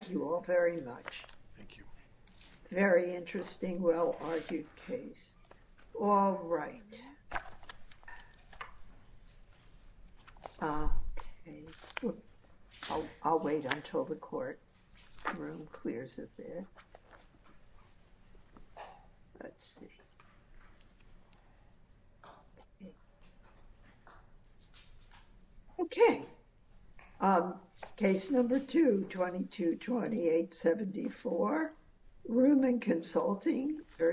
Thank you all very much. Very interesting, well-argued case. All right, I'll wait until the court room clears up there. Let's see. Okay. Case number 222874, Ruhmann Consulting v.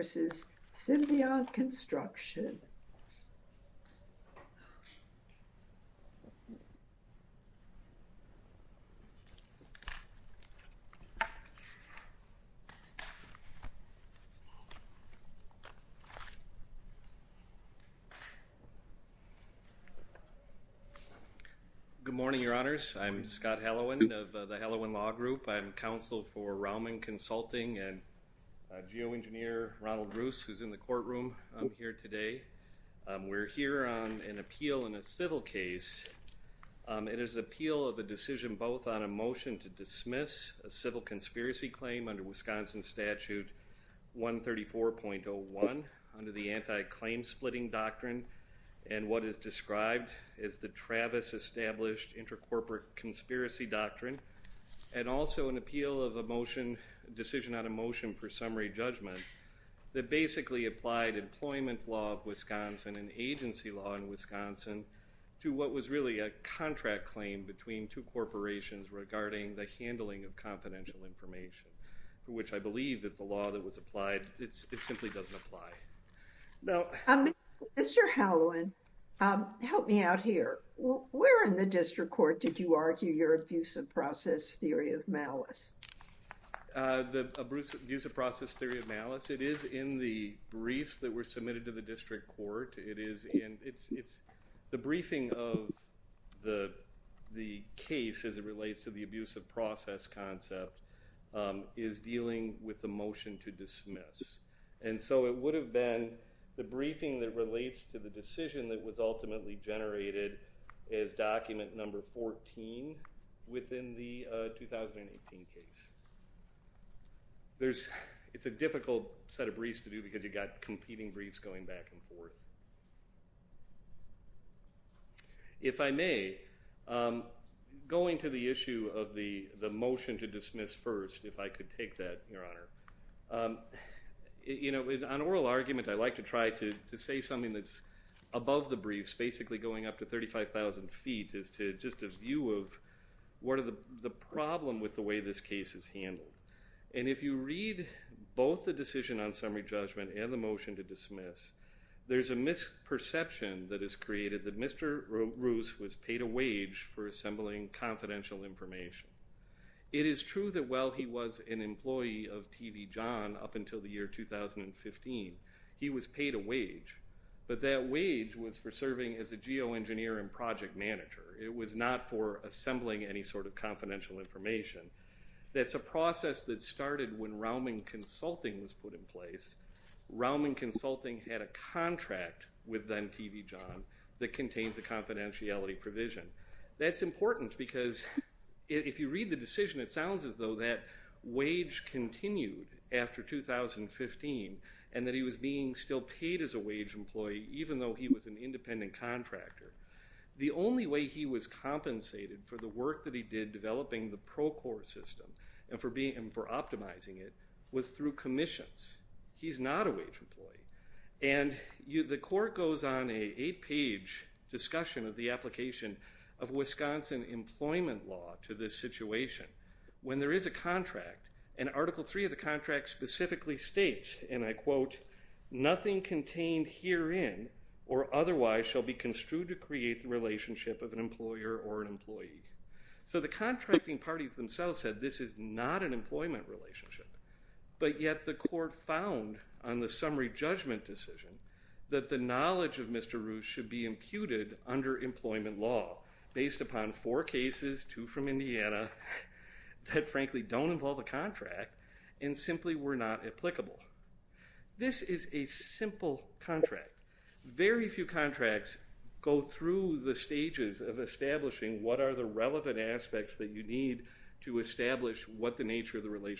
Symbiont Construction. Good morning, Your Honors. I'm Scott Hallowen of the Hallowen Law Group. I'm counsel for Raumann Consulting and geoengineer Ronald Roos, who's in the courtroom here today. We're here on an appeal in a civil case. It is the appeal of a decision both on a under the anti-claim-splitting doctrine and what is described as the Travis Established Intercorporate Conspiracy Doctrine, and also an appeal of a motion, decision on a motion for summary judgment, that basically applied employment law of Wisconsin and agency law in Wisconsin to what was really a contract claim between two corporations regarding the handling of confidential information, for which I believe that the law that was applied, it simply doesn't apply. Now, Mr. Hallowen, help me out here. Where in the district court did you argue your abuse of process theory of malice? The abuse of process theory of malice, it is in the briefs that were submitted to the district court. It is in, it's, it's the briefing of the the case as it relates to the abuse of process concept, is dealing with the motion to dismiss. And so it would have been the briefing that relates to the decision that was ultimately generated as document number 14 within the 2018 case. There's, it's a difficult set of briefs to do because you got competing briefs going back and forth. If I may, going to the issue of the the motion to dismiss first, if I could take that, Your Honor. You know, on oral argument, I like to try to say something that's above the briefs, basically going up to 35,000 feet, is to just a view of what are the problem with the way this case is handled. And if you read both the decision on summary judgment and the motion to dismiss, there's a misperception that is created that Mr. Roos was paid a wage for assembling confidential information. It is true that while he was an employee of TV John up until the year 2015, he was paid a wage. But that wage was for serving as a geoengineer and project manager. It was not for assembling any sort of confidential information. That's a process that started when Raumann Consulting was put in place. Raumann Consulting had a contract with then TV John that contains the confidentiality provision. That's important because if you read the decision, it sounds as though that wage continued after 2015 and that he was being still paid as a wage employee, even though he was an independent contractor. The only way he was compensated for the work that he did developing the Procore system and for being, for optimizing it, was through commissions. He's not a wage employee. And the court goes on an eight-page discussion of the application of Wisconsin employment law to this situation. When there is a contract, and Article 3 of the contract specifically states, and I quote, nothing contained herein or otherwise shall be construed to create the relationship of an employer or an employee. So the contracting parties themselves said this is not an employment relationship. But yet the court found on the summary judgment decision that the knowledge of Mr. Roos should be imputed under employment law based upon four cases, two from Indiana, that frankly don't involve a contract and simply were not applicable. This is a simple contract. Very few contracts go through the stages of establishing what are the relevant aspects that you need to establish what the nature of the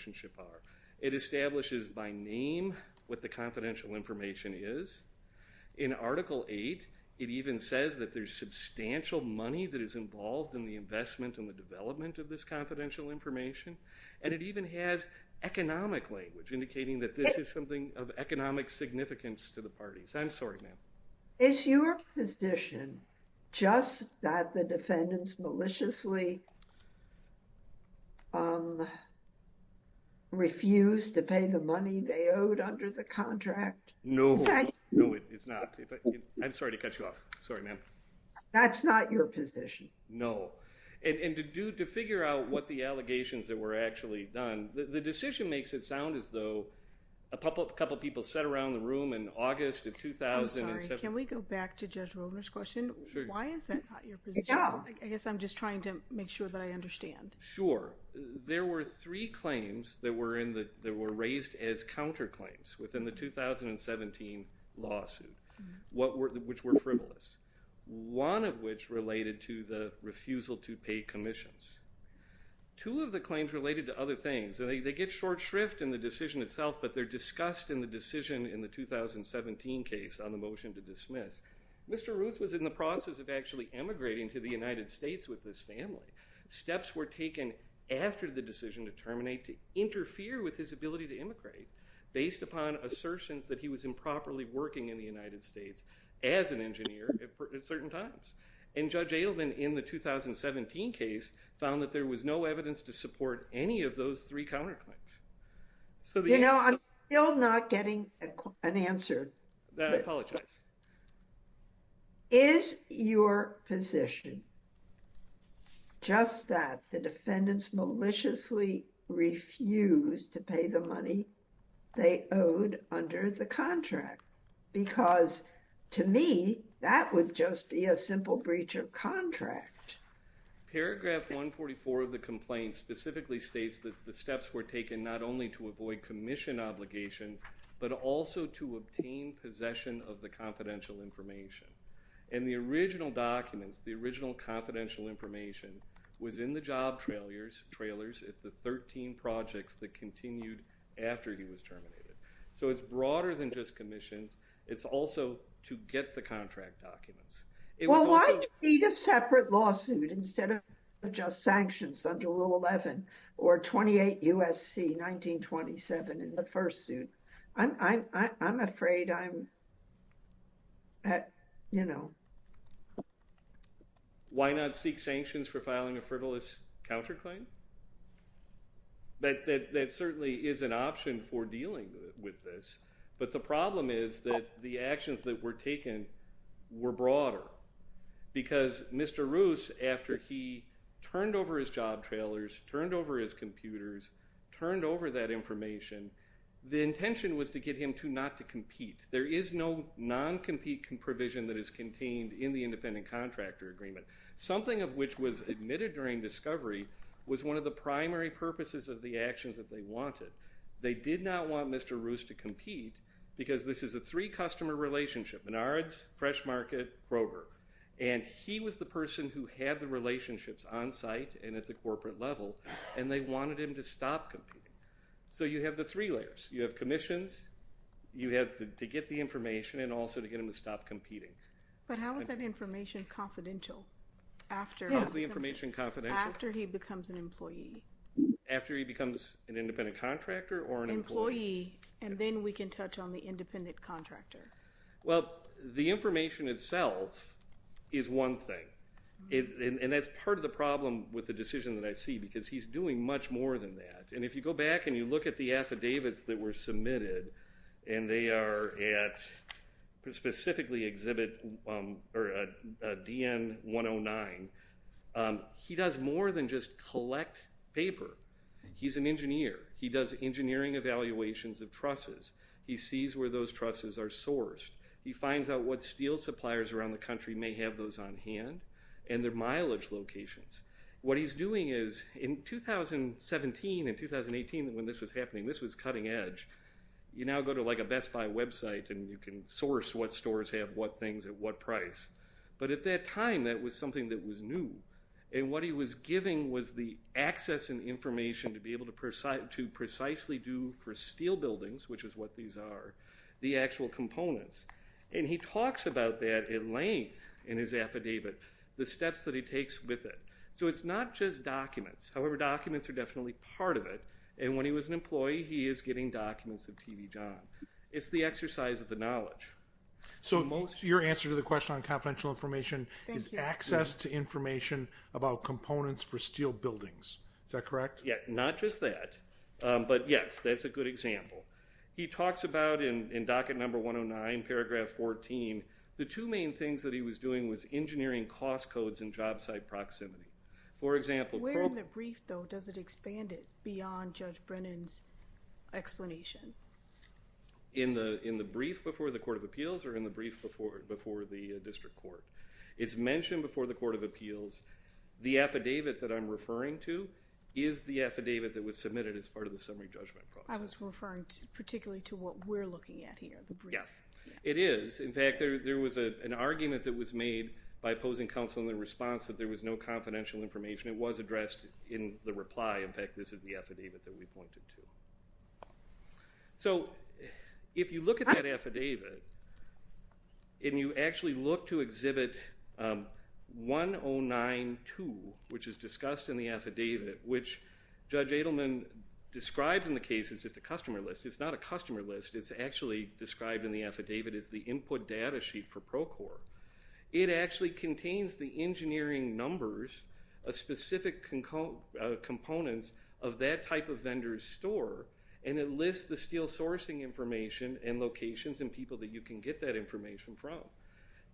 is by name what the confidential information is. In Article 8 it even says that there's substantial money that is involved in the investment and the development of this confidential information. And it even has economic language indicating that this is something of economic significance to the parties. I'm sorry ma'am. Is your position just that the defendants maliciously refused to pay the money they owed under the contract? No. No, it's not. I'm sorry to cut you off. Sorry ma'am. That's not your position. No. And to do, to figure out what the allegations that were actually done, the decision makes it sound as though a couple of people sat around the room in August of 2007. Can we go back to Judge Rovner's question? Sure. Why is that not your position? I guess I'm just trying to make sure that I understand. Sure. There were three claims that were in the, that were raised as counterclaims within the 2017 lawsuit. What were, which were frivolous. One of which related to the refusal to pay commissions. Two of the claims related to other things. They get short shrift in the decision itself but they're dismissed. Mr. Ruth was in the process of actually emigrating to the United States with this family. Steps were taken after the decision to terminate to interfere with his ability to immigrate based upon assertions that he was improperly working in the United States as an engineer at certain times. And Judge Adelman in the 2017 case found that there was no evidence to support any of those three counterclaims. So you know I'm still not getting an answer. I apologize. Is your position just that the defendants maliciously refused to pay the money they owed under the contract? Because to me that would just be a simple breach of contract. Paragraph 144 of the complaint specifically states that the steps were taken not only to avoid commission obligations but also to obtain possession of the confidential information. And the original documents, the original confidential information, was in the job trailers if the 13 projects that continued after he was terminated. So it's broader than just commissions. It's also to get the contract documents. Well why do you need a separate lawsuit instead of just sanctions under Rule 11 or 28 U.S.C. 1927 in the first suit? I'm afraid I'm, you know. Why not seek sanctions for filing a frivolous counterclaim? But that certainly is an option for dealing with this. But the problem is that the actions that were taken were broader. Because Mr. Roos, after he turned over his job trailers, turned over his computers, turned over that information, the intention was to get him to not to compete. There is no non-compete provision that is contained in the independent contractor agreement. Something of which was admitted during discovery was one of the primary purposes of the actions that they wanted. They did not want Mr. Roos to compete because this is a three customer relationship. Menards, Fresh Market, Grover. And he was the person who had the relationships on site and at the So you have the three layers. You have commissions, you have to get the information, and also to get him to stop competing. But how is that information confidential after? How is the information confidential? After he becomes an employee. After he becomes an independent contractor or an employee. And then we can touch on the independent contractor. Well, the information itself is one thing. And that's part of the problem with the decision that I see because he's doing much more than that. And if you go back and you look at the affidavits that were submitted, and they are at specifically exhibit or a DN 109, he does more than just collect paper. He's an engineer. He does engineering evaluations of trusses. He sees where those trusses are sourced. He finds out what steel suppliers around the country may have those on hand and their mileage locations. What he's doing is in 2017 and 2018 when this was happening, this was cutting-edge. You now go to like a Best Buy website and you can source what stores have what things at what price. But at that time that was something that was new. And what he was giving was the access and information to be able to precisely do for steel buildings, which is what these are, the actual components. And he talks about that at length in his affidavit. The steps that he takes with it. So it's not just documents. However, documents are definitely part of it. And when he was an employee, he is getting documents of TV John. It's the exercise of the knowledge. So your answer to the question on confidential information is access to information about components for steel buildings. Is that correct? Yeah, not just that. But yes, that's a good example. He talks about in docket number 109, paragraph 14, the two main things that he was doing was engineering cost codes and job site proximity. For example... Where in the brief, though, does it expand it beyond Judge Brennan's explanation? In the brief before the Court of Appeals or in the brief before the District Court? It's mentioned before the Court of Appeals. The affidavit that I'm referring to is the affidavit that was submitted as part of the summary judgment process. I was referring particularly to what we're looking at here. It is. In fact, there was an argument that was made by opposing counsel in the response that there was no confidential information. It was addressed in the reply. In fact, this is the affidavit that we pointed to. So if you look at that affidavit and you actually look to exhibit 1092, which is discussed in the affidavit, which Judge Edelman described in the case as just a customer list, it's actually described in the affidavit as the input data sheet for Procor. It actually contains the engineering numbers, specific components of that type of vendor's store, and it lists the steel sourcing information and locations and people that you can get that information from.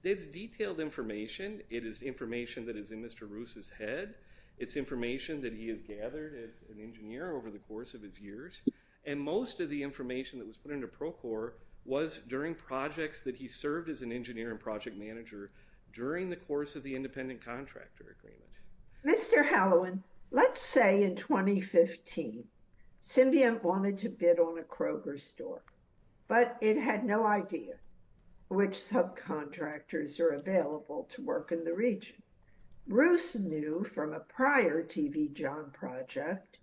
It's detailed information. It is information that is in Mr. Roos's head. It's information that he has gathered as an engineer over the course of his years, and most of the information that was put into Procor was during projects that he served as an engineer and project manager during the course of the independent contractor agreement. Mr. Hallowen, let's say in 2015, Symbiont wanted to bid on a Kroger store, but it had no idea which subcontractors are available to work in the region. Roos knew from a prior T.V. John project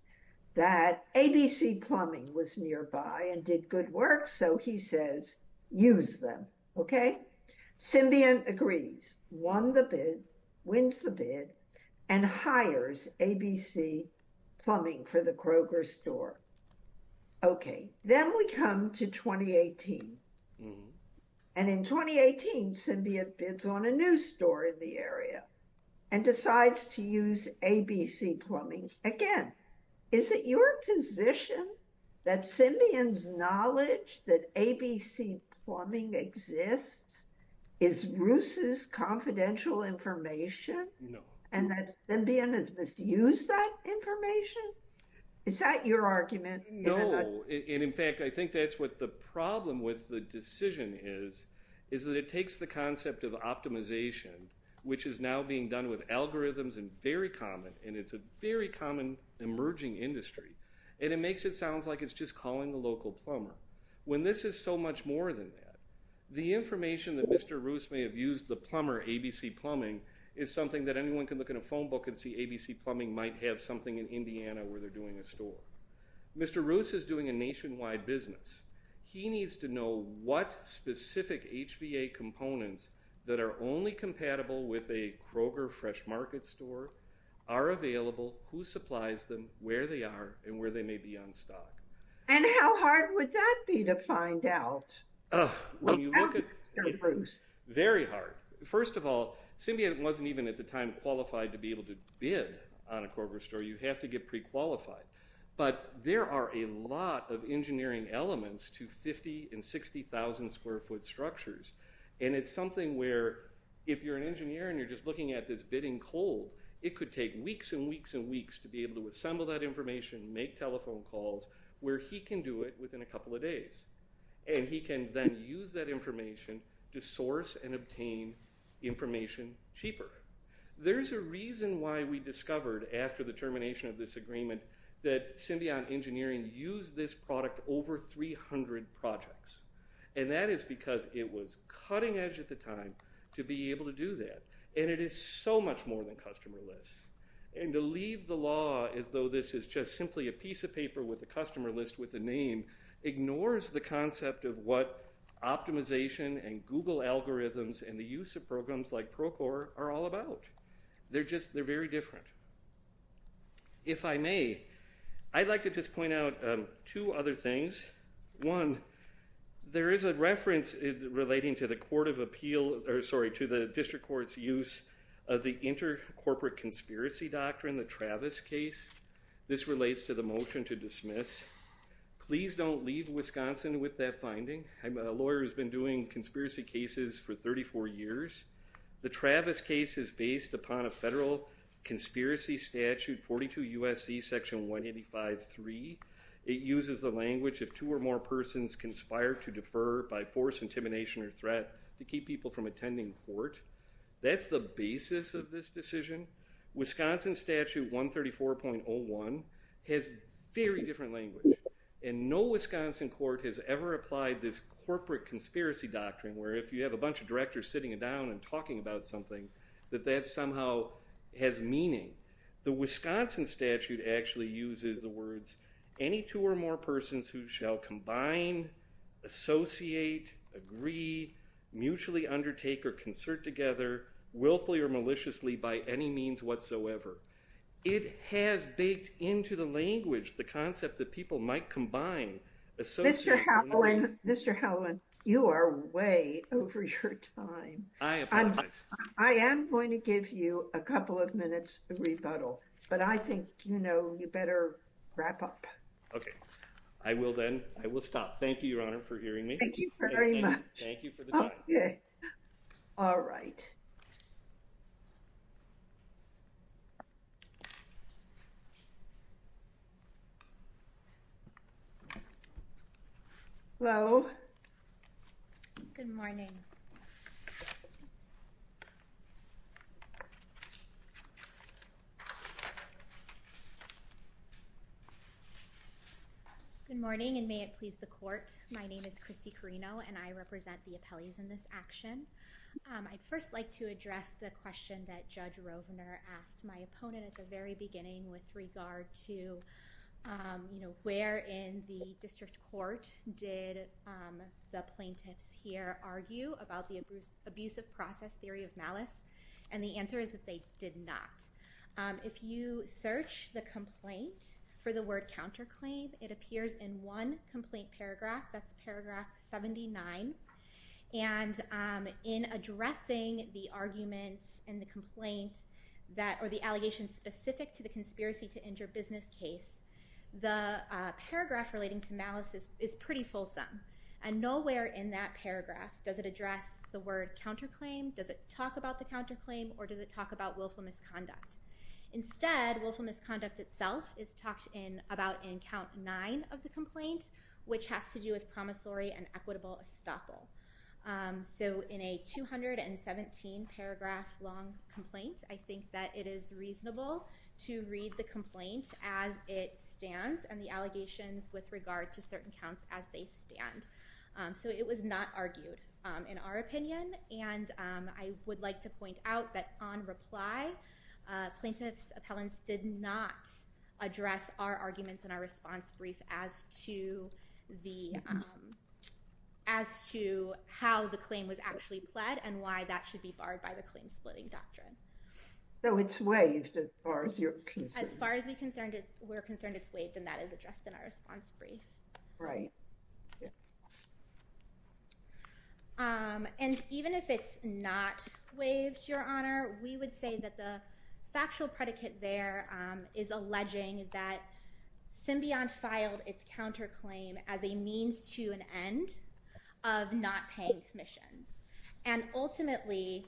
that ABC Plumbing was nearby and did good work, so he says, use them, okay? Symbiont agrees, won the bid, wins the bid, and hires ABC Plumbing for the Kroger store. Okay, then we come to 2018, and in 2018, Symbiont bids on a new store in the area and decides to use ABC Plumbing. Again, is it your position that Symbiont's knowledge that ABC Plumbing exists is Roos's confidential information and that Symbiont has misused that information? Is that your argument? No, and in fact, I think that's what the problem with the decision is, is that it takes the concept of optimization, which is now being done with algorithms and very common, and it's a very common emerging industry, and it makes it sound like it's just calling the local plumber, when this is so much more than that. The information that Mr. Roos may have used the plumber, ABC Plumbing, is something that anyone can look in a phone book and see ABC Plumbing might have something in Indiana where they're doing a store. Mr. Roos is doing a nationwide business. He needs to know what specific HVA components that are only compatible with a Kroger Fresh Market store are available, who supplies them, where they are, and where they may be on stock. And how hard would that be to find out? Very hard. First of all, Symbiont wasn't even at the time qualified to be able to bid on a Kroger store. You have to get pre-qualified, but there are a lot of engineering elements to 50 and 60,000 square foot structures, and it's something where, if you're an engineer and you're just looking at this bidding cold, it could take weeks and weeks and weeks to be able to assemble that information, make telephone calls, where he can do it within a couple of days. And he can then use that information to source and obtain information cheaper. There's a reason why we discovered, after the termination of this agreement, that Symbiont Engineering used this product over 300 projects. And that is because it was cutting-edge at the time to be able to do that. And it is so much more than customer lists. And to leave the law as though this is just simply a piece of paper with a customer list with a name ignores the concept of what optimization and Google algorithms and the use of programs like Procore are all about. They're just, they're very different. If I may, I'd like to just point out two other things. One, there is a reference relating to the court of appeal, or sorry, to the district court's use of the inter-corporate conspiracy doctrine, the Travis case. This relates to the motion to dismiss. Please don't leave Wisconsin with that finding. I'm a lawyer who's been doing conspiracy cases for 34 years. The Travis case is based upon a federal conspiracy statute, 42 U.S.C. section 185.3. It uses the language, if two or more persons conspire to defer by force, intimidation, or threat, to keep people from attending court. That's the basis of this decision. Wisconsin statute 134.01 has very different language. And no Wisconsin court has ever applied this corporate conspiracy doctrine, where if you have a bunch of directors sitting down and talking about something, that that somehow has meaning. The Wisconsin statute actually uses the words, any two or more persons who shall combine, associate, agree, mutually undertake, or concert together, willfully or maliciously, by any means whatsoever. It has baked into the language the concept that people might combine. Mr. Howland, you are way over your time. I am going to give you a couple of minutes to rebuttal, but I think, you know, you better wrap up. Okay, I will then. I will stop. Thank you, Your Honor, for hearing me. Thank you very much. Thank you for the time. All right. Hello. Good morning. Good morning, and may it please the court. My name is Kristy Carino, and I represent the appellees in this action. I'd first like to address the question that Judge Rovner asked my opponent at the very beginning with regard to, you know, where in the district court did the plaintiffs here argue about the abusive process theory of malice, and the answer is that they did not. If you search the complaint for the word counterclaim, it appears in one complaint paragraph. That's paragraph 79, and in addressing the arguments and the complaint that, or the allegations specific to the conspiracy to injure business case, the paragraph relating to malice is pretty fulsome, and nowhere in that paragraph does it address the word counterclaim, does it talk about the counterclaim, or does it talk about willful misconduct. Instead, willful misconduct itself is talked in about in count nine of the complaint, which has to do with promissory and equitable estoppel. So in a 217 paragraph long complaint, I think that it is reasonable to read the complaint as it stands, and the allegations with regard to certain counts as they stand. So it was not argued in our opinion, and I would like to point out that on reply, plaintiffs appellants did not address our arguments in our response brief as to the, as to how the claim was actually pled, and why that should be barred by the claim splitting doctrine. So it's waived as far as you're concerned? As far as we're concerned, it's waived, and that is addressed in our response brief. Right. And even if it's not waived, Your Honor, we would say that the factual predicate there is alleging that Symbiont filed its counterclaim as a means to an end of not paying commissions, and ultimately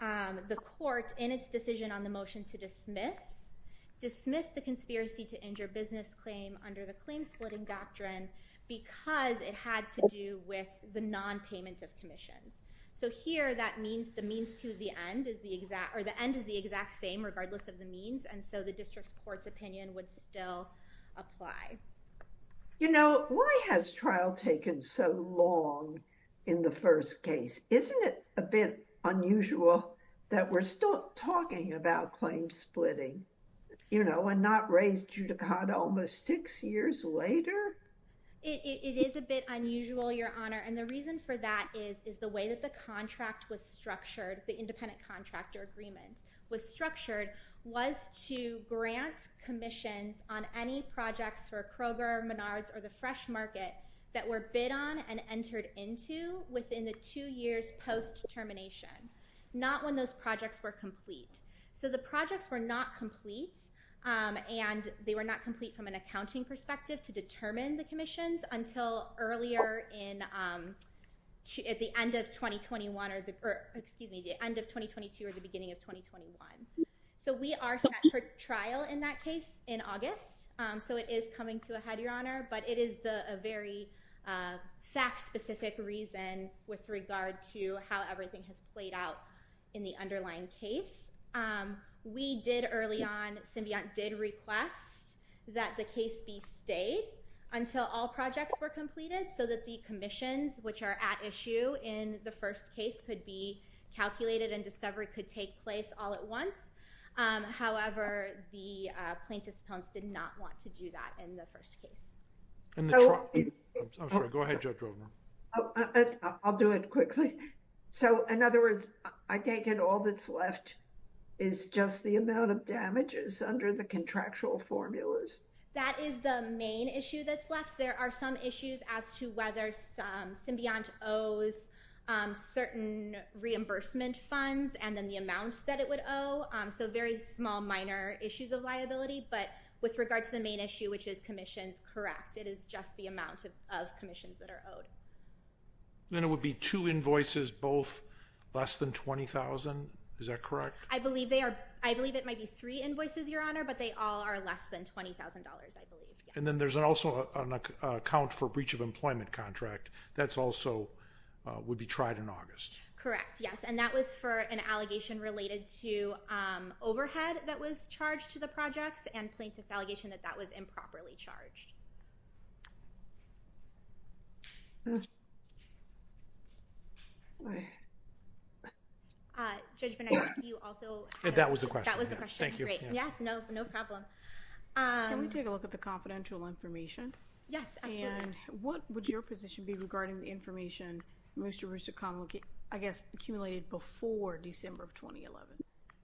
the court, in its decision on the motion to dismiss, dismissed the conspiracy to injure business claim under the claim splitting doctrine because it had to do with the non-payment of commissions. So here, that means the means to the end is the exact, or the end is the exact same regardless of the means, and so the district court's claim splitting doctrine would still apply. You know, why has trial taken so long in the first case? Isn't it a bit unusual that we're still talking about claim splitting, you know, and not raise judicata almost six years later? It is a bit unusual, Your Honor, and the reason for that is, is the way that the contract was structured, the any projects for Kroger, Menards, or the Fresh Market that were bid on and entered into within the two years post-termination, not when those projects were complete. So the projects were not complete, and they were not complete from an accounting perspective to determine the commissions until earlier in, at the end of 2021, or the, excuse me, the end of 2022 or the So it is coming to a head, Your Honor, but it is a very fact-specific reason with regard to how everything has played out in the underlying case. We did, early on, Symbiont did request that the case be stayed until all projects were completed so that the commissions, which are at issue in the first case, could be calculated and discovery could take place all at once. However, the plaintiffs' clients did not want to do that in the first case. So... I'm sorry. Go ahead, Judge Rovner. I'll do it quickly. So in other words, I take it all that's left is just the amount of damages under the contractual formulas? That is the main issue that's left. There are some issues as to whether Symbiont owes certain reimbursement funds and then the amount that it would owe. So very small minor issues of liability, but with regard to the main issue, which is commissions, correct. It is just the amount of commissions that are owed. And it would be two invoices, both less than $20,000. Is that correct? I believe they are. I believe it might be three invoices, Your Honor, but they all are less than $20,000, I believe. And then there's also an account for breach of employment contract. That's also would be tried in August. Correct, yes. And that was for an allegation related to overhead that was charged to the projects and plaintiff's allegation that that was improperly charged. Judge Bonet, do you also have... That was the question. That was the question. Thank you. Great. Yes, no problem. Can we take a look at the confidential information? Yes, absolutely. And what would your position be regarding the information Mr. Roussacombe, I guess, accumulated before December of 2011?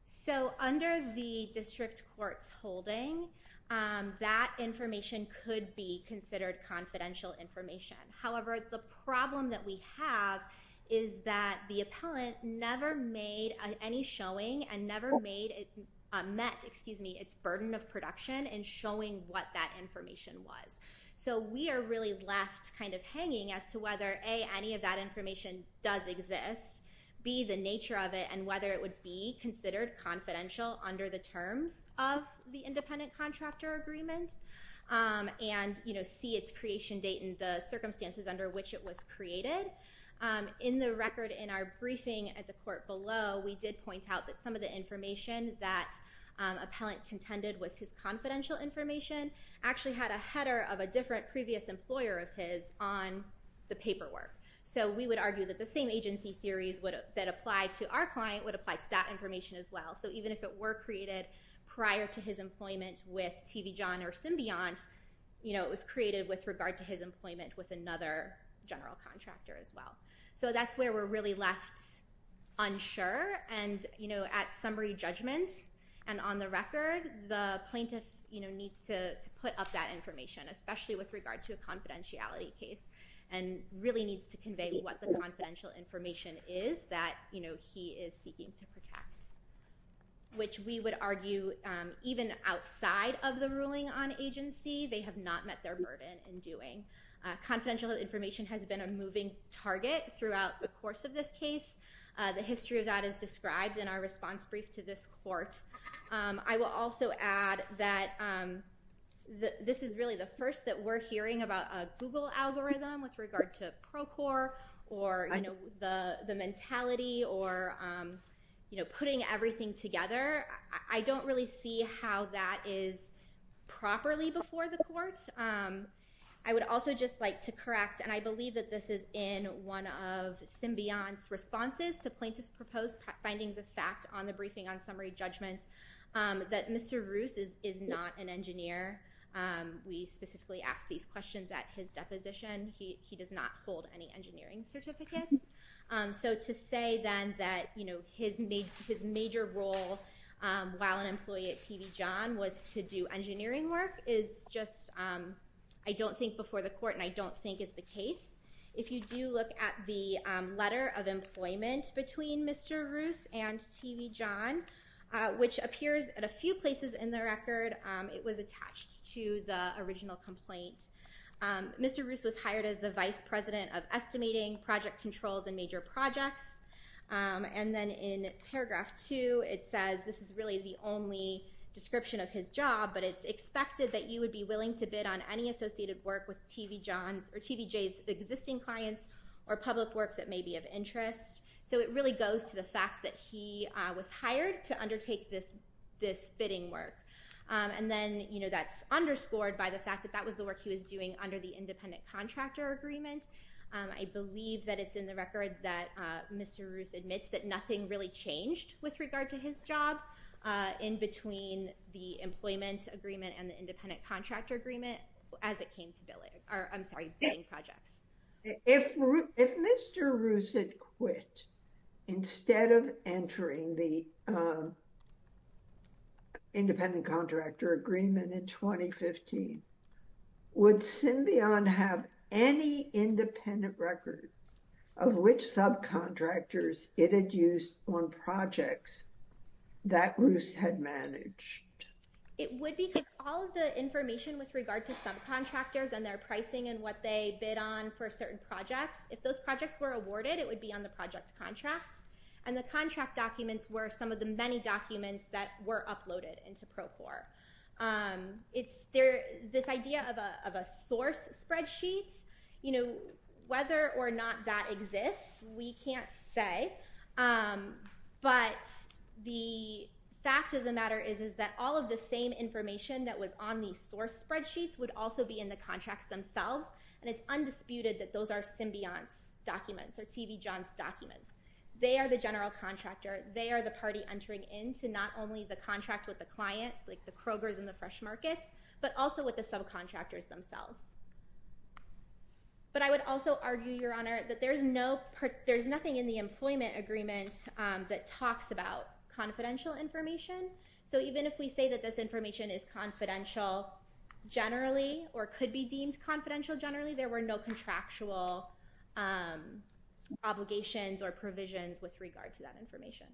So under the district court's holding, that information could be considered confidential information. However, the problem that we have is that the appellant never made any showing and never met its burden of production in the court. So we are really left kind of hanging as to whether, A, any of that information does exist, B, the nature of it, and whether it would be considered confidential under the terms of the independent contractor agreement, and, you know, C, its creation date and the circumstances under which it was created. In the record in our briefing at the court below, we did point out that some of the information that appellant contended was his confidential information actually had a header of a different previous employer of his on the paperwork. So we would argue that the same agency theories that apply to our client would apply to that information as well. So even if it were created prior to his employment with TV John or Symbiont, you know, it was created with regard to his employment with another general contractor as well. So that's where we're really left unsure and, you know, at summary judgment. And on the record, the plaintiff, you know, needs to put up that information, especially with regard to a confidentiality case, and really needs to convey what the confidential information is that, you know, he is seeking to protect, which we would argue even outside of the ruling on agency, they have not met their burden in doing. Confidential information has been a moving target throughout the course of this case. The history of that is not new to the court. I will also add that this is really the first that we're hearing about a Google algorithm with regard to Procor or, you know, the mentality or, you know, putting everything together. I don't really see how that is properly before the court. I would also just like to correct, and I believe that this is in one of Symbiont's responses to plaintiff's post, findings of fact on the briefing on summary judgments, that Mr. Roos is not an engineer. We specifically asked these questions at his deposition. He does not hold any engineering certificates. So to say then that, you know, his major role while an employee at TV John was to do engineering work is just, I don't think, before the court, and I don't think is the case. If you do look at the letter of employment between Mr. Roos and TV John, which appears at a few places in the record, it was attached to the original complaint. Mr. Roos was hired as the vice president of estimating project controls and major projects, and then in paragraph two it says, this is really the only description of his job, but it's expected that you would be willing to work with BJ's existing clients or public work that may be of interest. So it really goes to the fact that he was hired to undertake this bidding work, and then, you know, that's underscored by the fact that that was the work he was doing under the independent contractor agreement. I believe that it's in the record that Mr. Roos admits that nothing really changed with regard to his job in between the employment agreement and the independent contractor agreement as it came to billing, I'm sorry, bidding projects. If Mr. Roos had quit instead of entering the independent contractor agreement in 2015, would Symbion have any independent records of which subcontractors it had used on projects that Roos had managed? It would because all of the information with regard to subcontractors and their pricing and what they bid on for certain projects, if those projects were awarded, it would be on the project contract, and the contract documents were some of the many documents that were uploaded into Procore. This idea of a source spreadsheet, you know, whether or not that exists, we can't say, but the fact of the matter is that all of the same information that was on the source spreadsheets would also be in the contracts themselves, and it's undisputed that those are Symbion's documents or T.V. John's documents. They are the general contractor. They are the party entering into not only the contract with the client, like the Kroger's and the Fresh Markets, but also with the subcontractors themselves. But I would also argue, Your Honor, that there's nothing in the employment agreement that talks about confidential information. So even if we say that this information is confidential generally, or could be deemed confidential generally, there were no contractual obligations or provisions with regard to that information.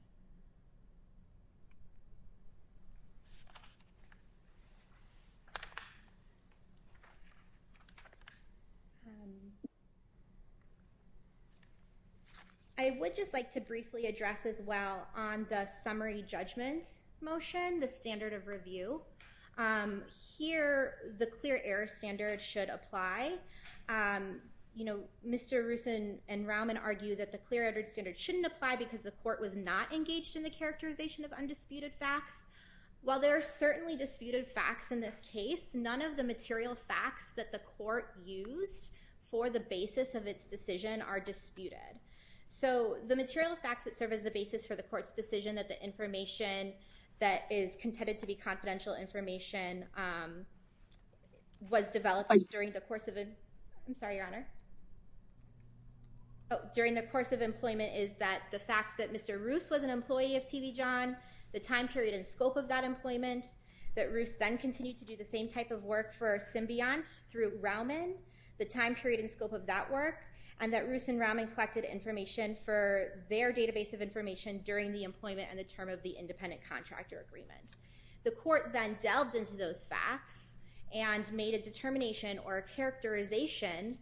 I would just like to briefly address as well on the summary judgment motion, the standard of review. Here, the clear error standard should apply. You know, Mr. Rusin and Rauman argue that the clear error standard shouldn't apply because the court was not engaged in the characterization of undisputed facts. While there are certainly disputed facts in this case, none of the material facts that the court used for the basis of its decision are disputed. So the material facts that serve as the basis for the court's decision that the information that is contended to be confidential information was developed during the course of a... I'm sorry, Your Honor. During the course of employment is that the court found that Mr. Rusin was an employee of TV John, the time period and scope of that employment, that Rusin then continued to do the same type of work for Symbiont through Rauman, the time period and scope of that work, and that Rusin and Rauman collected information for their database of information during the employment and the term of the independent contractor agreement. The court then delved into those facts and made a determination or a characterization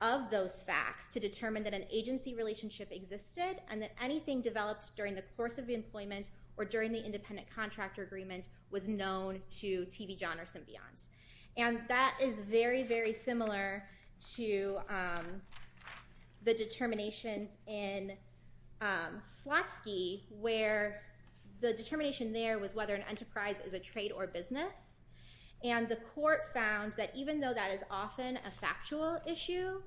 of those facts to determine that an agency relationship existed and that anything developed during the course of the employment or during the independent contractor agreement was known to TV John or Symbiont. And that is very, very similar to the determinations in Slotsky, where the determination there was whether an enterprise is a trade or business. And the court found that even though that is often a factual issue,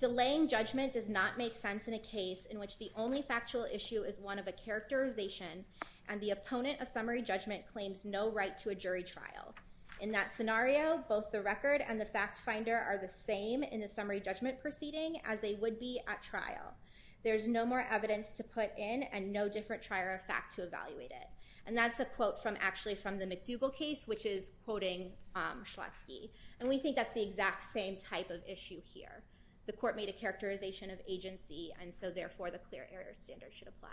delaying judgment does not make sense in a case in which the only factual issue is one of a characterization and the opponent of summary judgment claims no right to a jury trial. In that scenario, both the record and the fact finder are the same in the summary judgment proceeding as they would be at trial. There's no more evidence to put in and no different trier of fact to evaluate it. And that's a quote from actually from the McDougall case, which is quoting Slotsky. And we think that's the exact same type of issue here. The court made a determination of agency. And so therefore, the clear air standard should apply.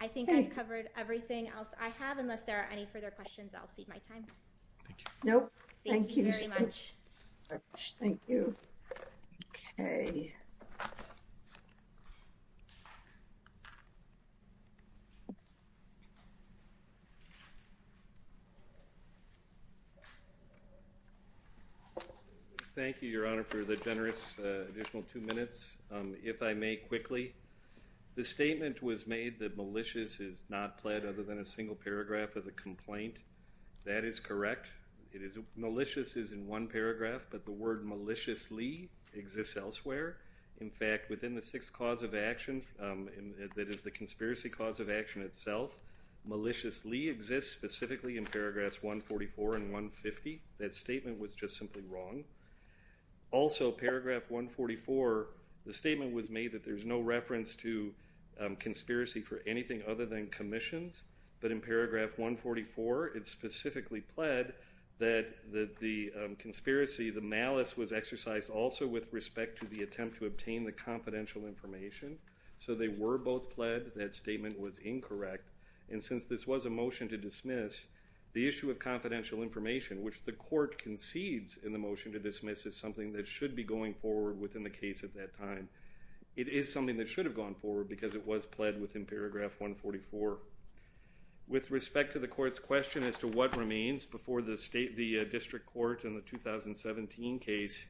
I think I've covered everything else I have, unless there are any further questions. I'll see my time. No, thank you very much. Thank you. Okay. Thank you, Your Honor, for the generous additional two minutes. If I may quickly, the statement was made that malicious is not pled other than a single paragraph of the complaint. That is correct. It is malicious is in one paragraph, but the sixth cause of action, that is the conspiracy cause of action itself, maliciously exists specifically in paragraphs 144 and 150. That statement was just simply wrong. Also, paragraph 144, the statement was made that there's no reference to conspiracy for anything other than commissions. But in paragraph 144, it specifically pled that the conspiracy, the malice was exercised also with respect to the attempt to obtain the confidential information. So they were both pled. That statement was incorrect. And since this was a motion to dismiss, the issue of confidential information, which the court concedes in the motion to dismiss, is something that should be going forward within the case at that time. It is something that should have gone forward because it was pled within paragraph 144. With respect to the court's question as to what remains before the state, the district court in the 2017 case,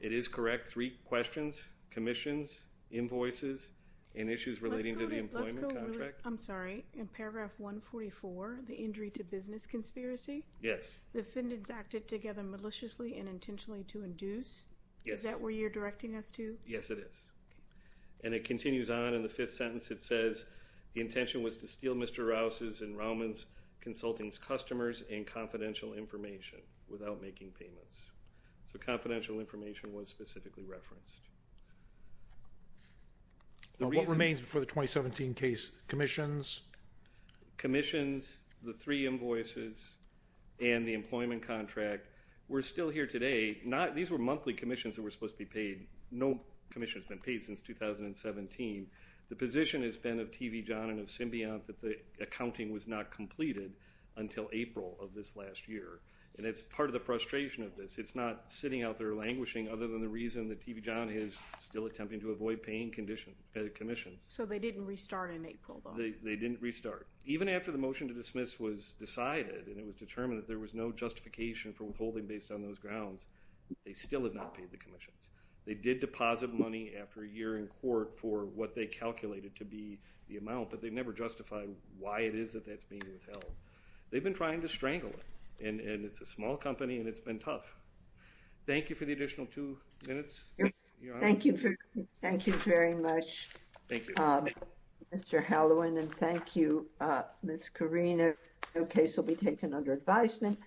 it is correct. Three questions, commissions, invoices, and issues relating to the employment contract. I'm sorry, in paragraph 144, the injury to business conspiracy? Yes. The defendants acted together maliciously and intentionally to induce? Yes. Is that where you're directing us to? Yes, it is. And it continues on in the fifth sentence. It says, the intention was to steal Mr. Rouse's and Rauman's Consulting's customers and confidential information without making payments. So confidential information was specifically referenced. What remains before the 2017 case? Commissions? Commissions, the three invoices, and the employment contract were still here today. These were monthly commissions that were supposed to be paid. No commission has been paid since 2017. The position has been of of this last year, and it's part of the frustration of this. It's not sitting out there languishing other than the reason that TB John is still attempting to avoid paying commission. So they didn't restart in April? They didn't restart. Even after the motion to dismiss was decided and it was determined that there was no justification for withholding based on those grounds, they still have not paid the commissions. They did deposit money after a year in court for what they calculated to be the amount, but they've never justified why it is that that's being withheld. They've been trying to strangle it, and it's a small company, and it's been tough. Thank you for the additional two minutes, Your Honor. Thank you very much, Mr. Hallowen, and thank you, Ms. Karina. No case will be taken under advisement.